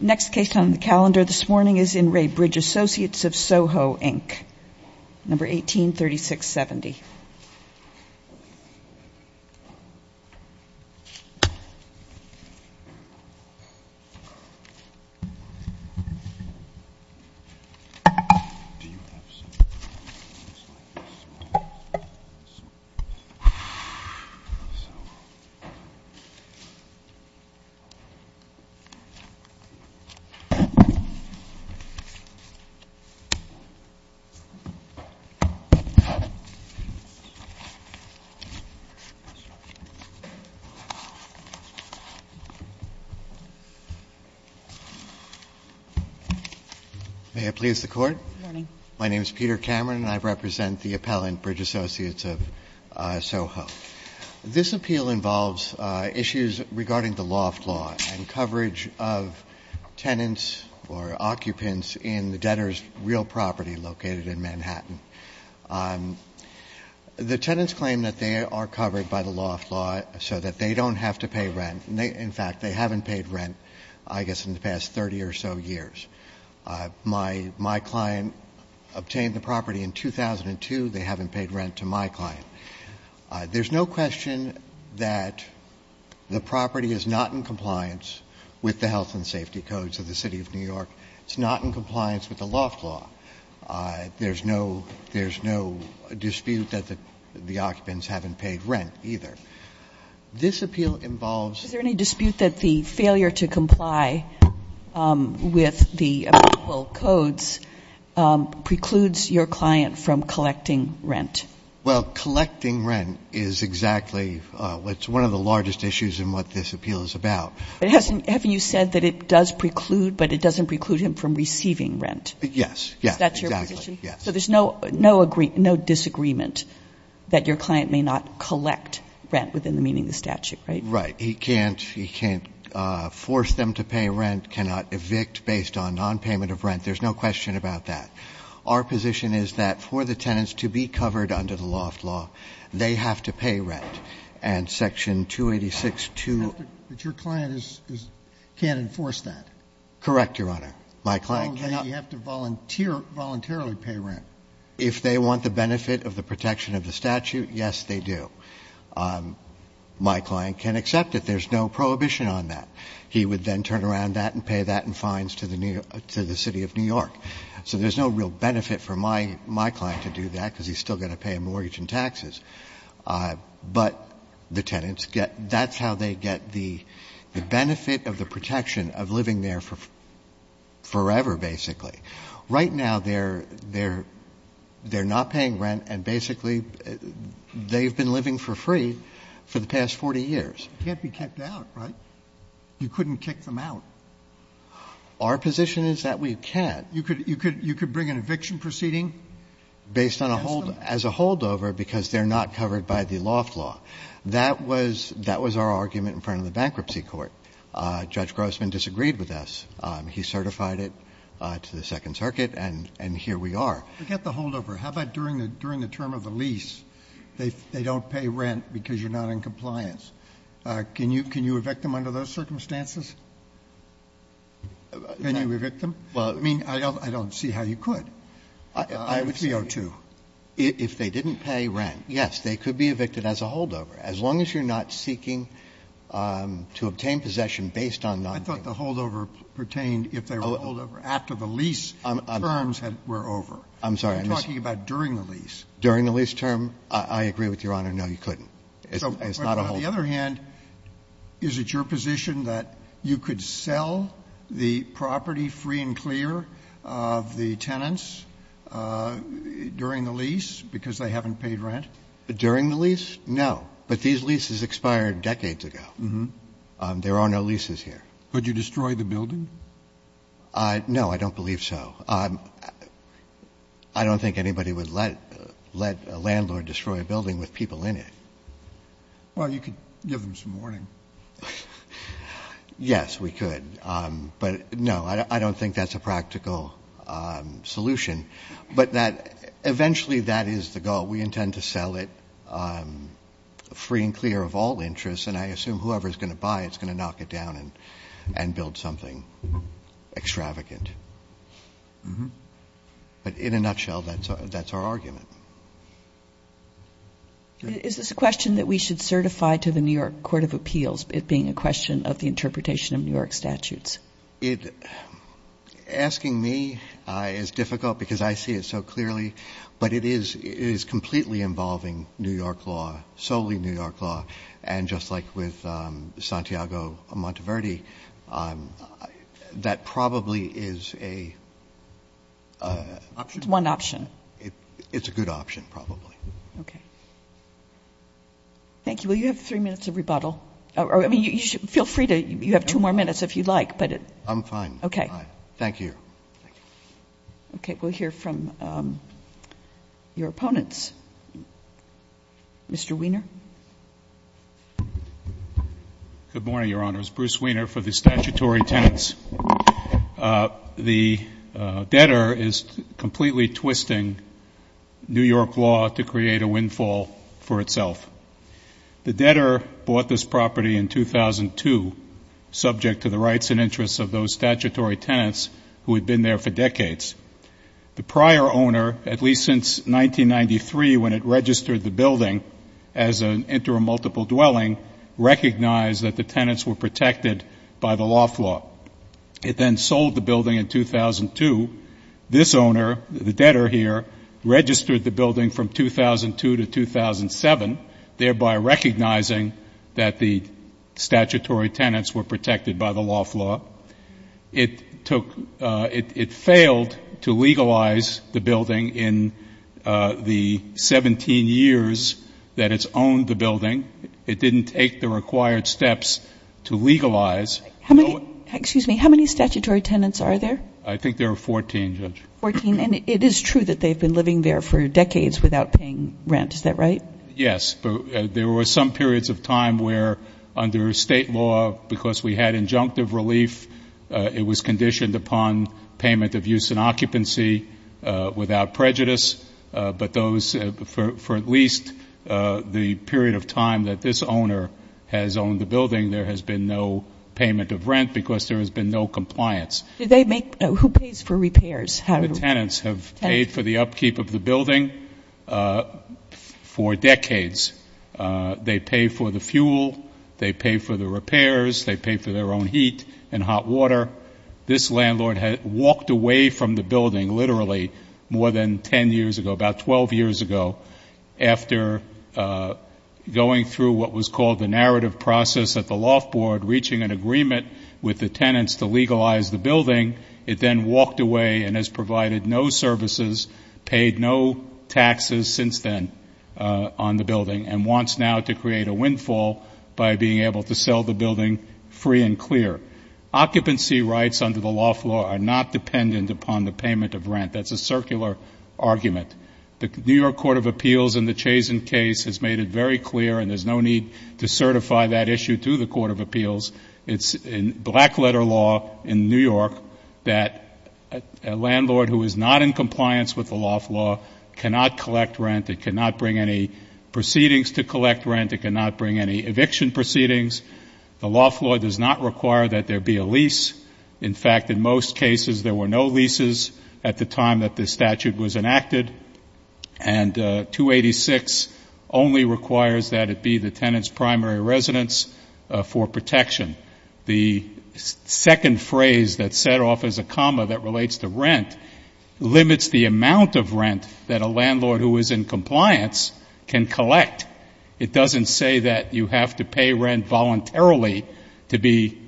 Next case on the calendar this morning is in Ray Bridge Associates of SOHO, Inc, number 183670. May I please the court? Good morning. My name is Peter Cameron and I represent the appellant, Bridge Associates of SOHO. This appeal involves issues regarding the loft law and coverage of tenants or occupants in the debtor's real property located in Manhattan. The tenants claim that they are covered by the loft law so that they don't have to pay rent. In fact, they haven't paid rent, I guess, in the past 30 or so years. My client obtained the property in 2002, they haven't paid rent to my client. There's no question that the property is not in compliance with the health and safety codes of the city of New York. It's not in compliance with the loft law. There's no dispute that the occupants haven't paid rent either. This appeal involves- Is there any dispute that the failure to comply with the codes precludes your client from collecting rent? Well, collecting rent is exactly what's one of the largest issues in what this appeal is about. But haven't you said that it does preclude, but it doesn't preclude him from receiving rent? Yes. Is that your position? Yes. So there's no disagreement that your client may not collect rent within the meaning of the statute, right? Right. He can't force them to pay rent, cannot evict based on non-payment of rent. There's no question about that. Our position is that for the tenants to be covered under the loft law, they have to pay rent. And section 286-2- But your client can't enforce that? Correct, Your Honor. My client cannot- You have to voluntarily pay rent. If they want the benefit of the protection of the statute, yes, they do. My client can accept it. There's no prohibition on that. He would then turn around that and pay that in fines to the city of New York. So there's no real benefit for my client to do that, because he's still going to pay a mortgage and taxes. But the tenants get, that's how they get the benefit of the protection of living there forever, basically. Right now, they're not paying rent, and basically, they've been living for free for the past 40 years. Can't be kicked out, right? You couldn't kick them out. Our position is that we can't. You could bring an eviction proceeding- Based on a hold, as a holdover, because they're not covered by the loft law. That was our argument in front of the bankruptcy court. Judge Grossman disagreed with us. He certified it to the Second Circuit, and here we are. Forget the holdover. How about during the term of the lease, they don't pay rent because you're not in compliance. Can you evict them under those circumstances? Can you evict them? I mean, I don't see how you could. I would say- I would say, if they didn't pay rent, yes, they could be evicted as a holdover. As long as you're not seeking to obtain possession based on not- I thought the holdover pertained if they were holdover after the lease terms were over. I'm sorry. I'm talking about during the lease. During the lease term, I agree with Your Honor, no, you couldn't. It's not a holdover. On the other hand, is it your position that you could sell the property free and clear of the tenants during the lease because they haven't paid rent? During the lease? No. But these leases expired decades ago. There are no leases here. Could you destroy the building? No, I don't believe so. I don't think anybody would let a landlord destroy a building with people in it. Well, you could give them some warning. Yes, we could. But no, I don't think that's a practical solution. But that, eventually that is the goal. We intend to sell it free and clear of all interests. And I assume whoever's going to buy, it's going to knock it down and build something extravagant. But in a nutshell, that's our argument. Is this a question that we should certify to the New York Court of Appeals, it being a question of the interpretation of New York statutes? It, asking me is difficult because I see it so clearly. But it is completely involving New York law, solely New York law. And just like with Santiago Monteverdi, that probably is a option. One option. It's a good option, probably. Okay. Thank you. Will you have three minutes of rebuttal? I mean, you should feel free to, you have two more minutes if you'd like, but it. I'm fine. Okay. Thank you. Okay, we'll hear from your opponents. Mr. Wiener. Good morning, Your Honors. Bruce Wiener for the Statutory Tenants. The debtor is completely twisting New York law to create a windfall for itself. The debtor bought this property in 2002, subject to the rights and interests of those statutory tenants who had been there for decades. The prior owner, at least since 1993 when it registered the building as an intermultiple dwelling, recognized that the tenants were protected by the law flaw. It then sold the building in 2002. This owner, the debtor here, registered the building from 2002 to 2007, thereby recognizing that the statutory tenants were protected by the law flaw. It took, it failed to legalize the building in the 17 years that it's owned the building. It didn't take the required steps to legalize. How many, excuse me, how many statutory tenants are there? I think there are 14, Judge. 14, and it is true that they've been living there for decades without paying rent. Is that right? Yes, but there were some periods of time where under state law, because we had injunctive relief, it was conditioned upon payment of use and occupancy without prejudice, but those, for at least the period of time that this owner has owned the building, there has been no payment of rent because there has been no compliance. Do they make, who pays for repairs? How do- The tenants have paid for the upkeep of the building for decades. They pay for the fuel. They pay for the repairs. They pay for their own heat and hot water. This landlord had walked away from the building literally more than 10 years ago, about 12 years ago, after going through what was called the narrative process at the loft board, reaching an agreement with the tenants to legalize the building. It then walked away and has provided no services, paid no taxes since then on the building, and wants now to create a windfall by being able to sell the building free and clear. Occupancy rights under the loft law are not dependent upon the payment of rent. That's a circular argument. The New York Court of Appeals in the Chazen case has made it very clear, and there's no need to certify that issue to the Court of Appeals. It's in black letter law in New York that a landlord who is not in compliance with the loft law cannot collect rent. It cannot bring any proceedings to collect rent. It cannot bring any eviction proceedings. The loft law does not require that there be a lease. In fact, in most cases, there were no leases at the time that this statute was enacted. And 286 only requires that it be the tenant's primary residence for protection. The second phrase that's set off as a comma that relates to rent limits the amount of rent that a landlord who is in compliance can collect. It doesn't say that you have to pay rent voluntarily to be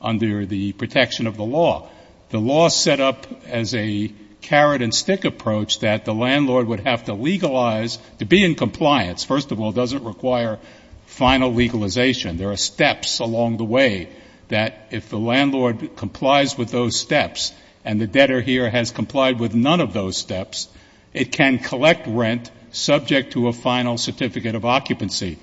under the protection of the law. The law set up as a carrot and stick approach that the landlord would have to legalize to be in compliance. First of all, it doesn't require final legalization. There are steps along the way that if the landlord complies with those steps, and the debtor here has complied with none of those steps, it can collect rent subject to a final certificate of occupancy.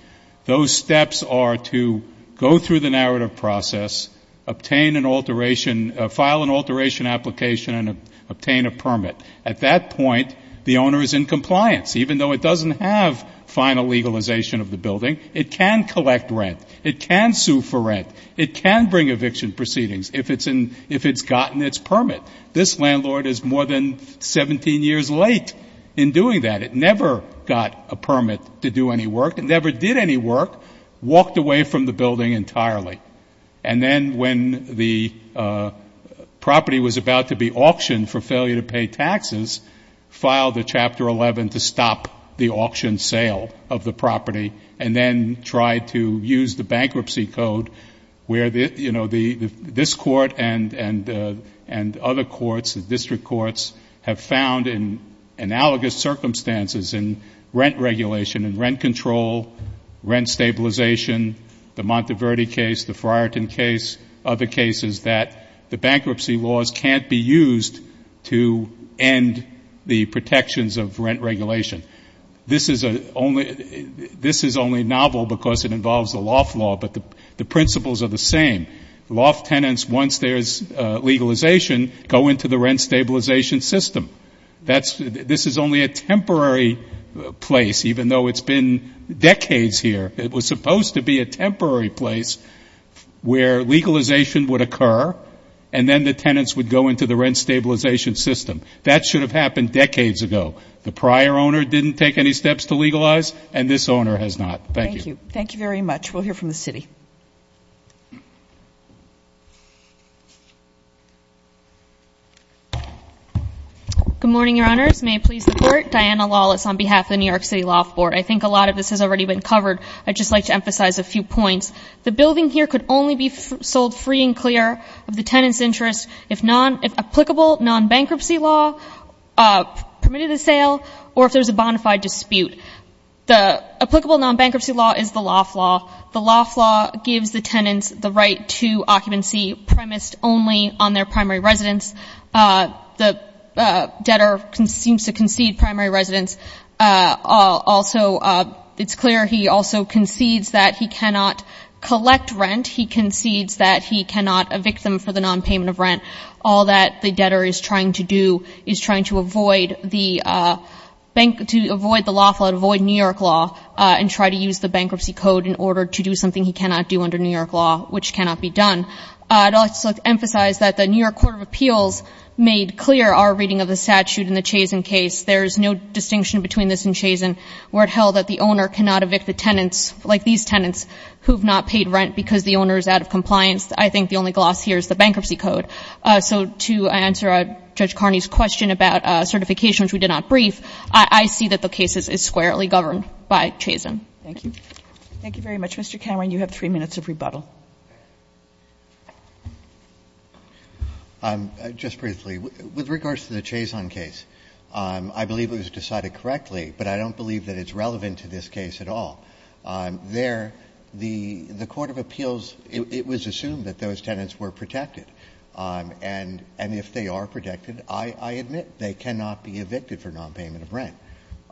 Those steps are to go through the narrative process, obtain an alteration, file an alteration application, and obtain a permit. At that point, the owner is in compliance. Even though it doesn't have final legalization of the building, it can collect rent. It can sue for rent. It can bring eviction proceedings if it's gotten its permit. This landlord is more than 17 years late in doing that. It never got a permit to do any work. It never did any work. Walked away from the building entirely. And then when the property was about to be auctioned for failure to pay taxes, filed a Chapter 11 to stop the auction sale of the property. And then tried to use the bankruptcy code where this court and other courts, the district courts, have found in analogous circumstances in rent regulation and rent control, rent stabilization, the Monteverde case, the Friarton case, other cases that the bankruptcy laws can't be used to end the protections of rent regulation. This is only novel because it involves the Loft Law, but the principles are the same. Loft tenants, once there's legalization, go into the rent stabilization system. This is only a temporary place, even though it's been decades here. It was supposed to be a temporary place where legalization would occur, and then the tenants would go into the rent stabilization system. That should have happened decades ago. The prior owner didn't take any steps to legalize, and this owner has not. Thank you. Thank you very much. We'll hear from the city. Good morning, your honors. May it please the court. Diana Lawless on behalf of the New York City Loft Board. I think a lot of this has already been covered. I'd just like to emphasize a few points. The building here could only be sold free and clear of the tenant's interest if applicable non-bankruptcy law permitted a sale or if there's a bonafide dispute. The applicable non-bankruptcy law is the Loft Law. The Loft Law gives the tenants the right to occupancy premised only on their primary residence. The debtor seems to concede primary residence. Also, it's clear he also concedes that he cannot collect rent. He concedes that he cannot evict them for the non-payment of rent. All that the debtor is trying to do is trying to avoid the bank, to avoid the Loft Law, to avoid New York law and try to use the bankruptcy code in order to do something he cannot do under New York law, which cannot be done. I'd also like to emphasize that the New York Court of Appeals made clear our reading of the statute in the Chazen case. There's no distinction between this and Chazen where it held that the owner cannot evict the tenants, like these tenants, who have not paid rent because the owner is out of compliance. I think the only gloss here is the bankruptcy code. So to answer Judge Carney's question about certification, which we did not brief, I see that the case is squarely governed by Chazen. Thank you. Thank you very much, Mr. Cameron. You have 3 minutes of rebuttal. Just briefly, with regards to the Chazen case, I believe it was decided correctly, but I don't believe that it's relevant to this case at all. There, the Court of Appeals, it was assumed that those tenants were protected. And if they are protected, I admit, they cannot be evicted for nonpayment of rent.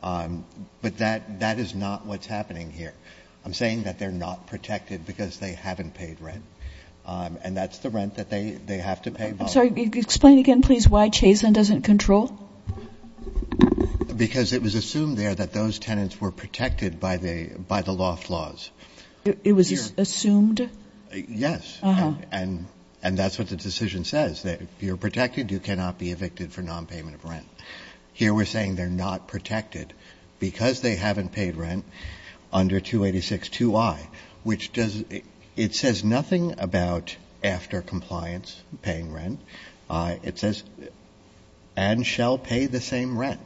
But that is not what's happening here. I'm saying that they're not protected because they haven't paid rent, and that's the rent that they have to pay. I'm sorry, explain again, please, why Chazen doesn't control? Because it was assumed there that those tenants were protected by the loft laws. It was assumed? Yes. And that's what the decision says, that if you're protected, you cannot be evicted for nonpayment of rent. Here we're saying they're not protected because they haven't paid rent under 286-2i, which does, it says nothing about after compliance, paying rent. It says, and shall pay the same rent.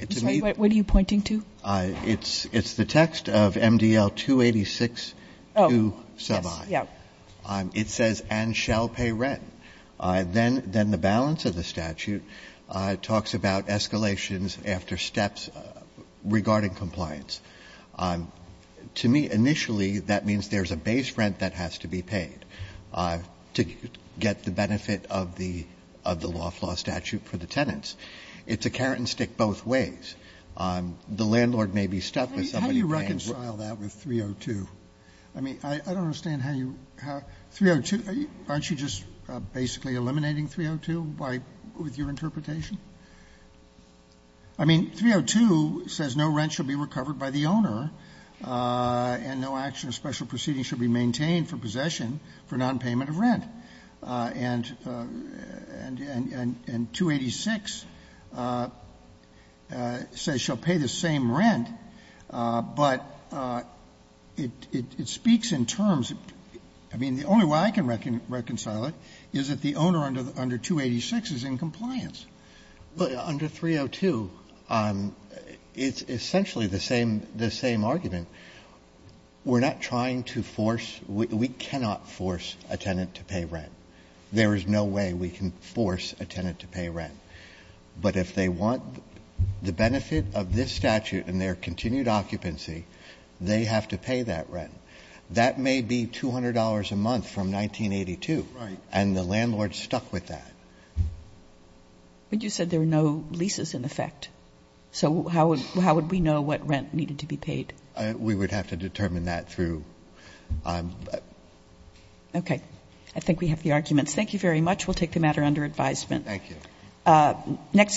I'm sorry, what are you pointing to? It's the text of MDL-286-2-2i. Yes, yeah. It says, and shall pay rent. Then the balance of the statute talks about escalations after steps regarding compliance. To me, initially, that means there's a base rent that has to be paid. To get the benefit of the loft law statute for the tenants. It's a carrot and stick both ways. The landlord may be stuck with somebody paying- How do you reconcile that with 302? I mean, I don't understand how you, 302, aren't you just basically eliminating 302 with your interpretation? I mean, 302 says no rent should be recovered by the owner, and no action or special proceeding should be maintained for possession for non-payment of rent. And 286 says she'll pay the same rent, but it speaks in terms. I mean, the only way I can reconcile it is that the owner under 286 is in compliance. But under 302, it's essentially the same argument. We're not trying to force, we cannot force a tenant to pay rent. There is no way we can force a tenant to pay rent. But if they want the benefit of this statute and their continued occupancy, they have to pay that rent. That may be $200 a month from 1982. Right. And the landlord's stuck with that. But you said there are no leases in effect. So how would we know what rent needed to be paid? We would have to determine that through. Okay. I think we have the arguments. Thank you very much. We'll take the matter under advisement. Thank you. Next.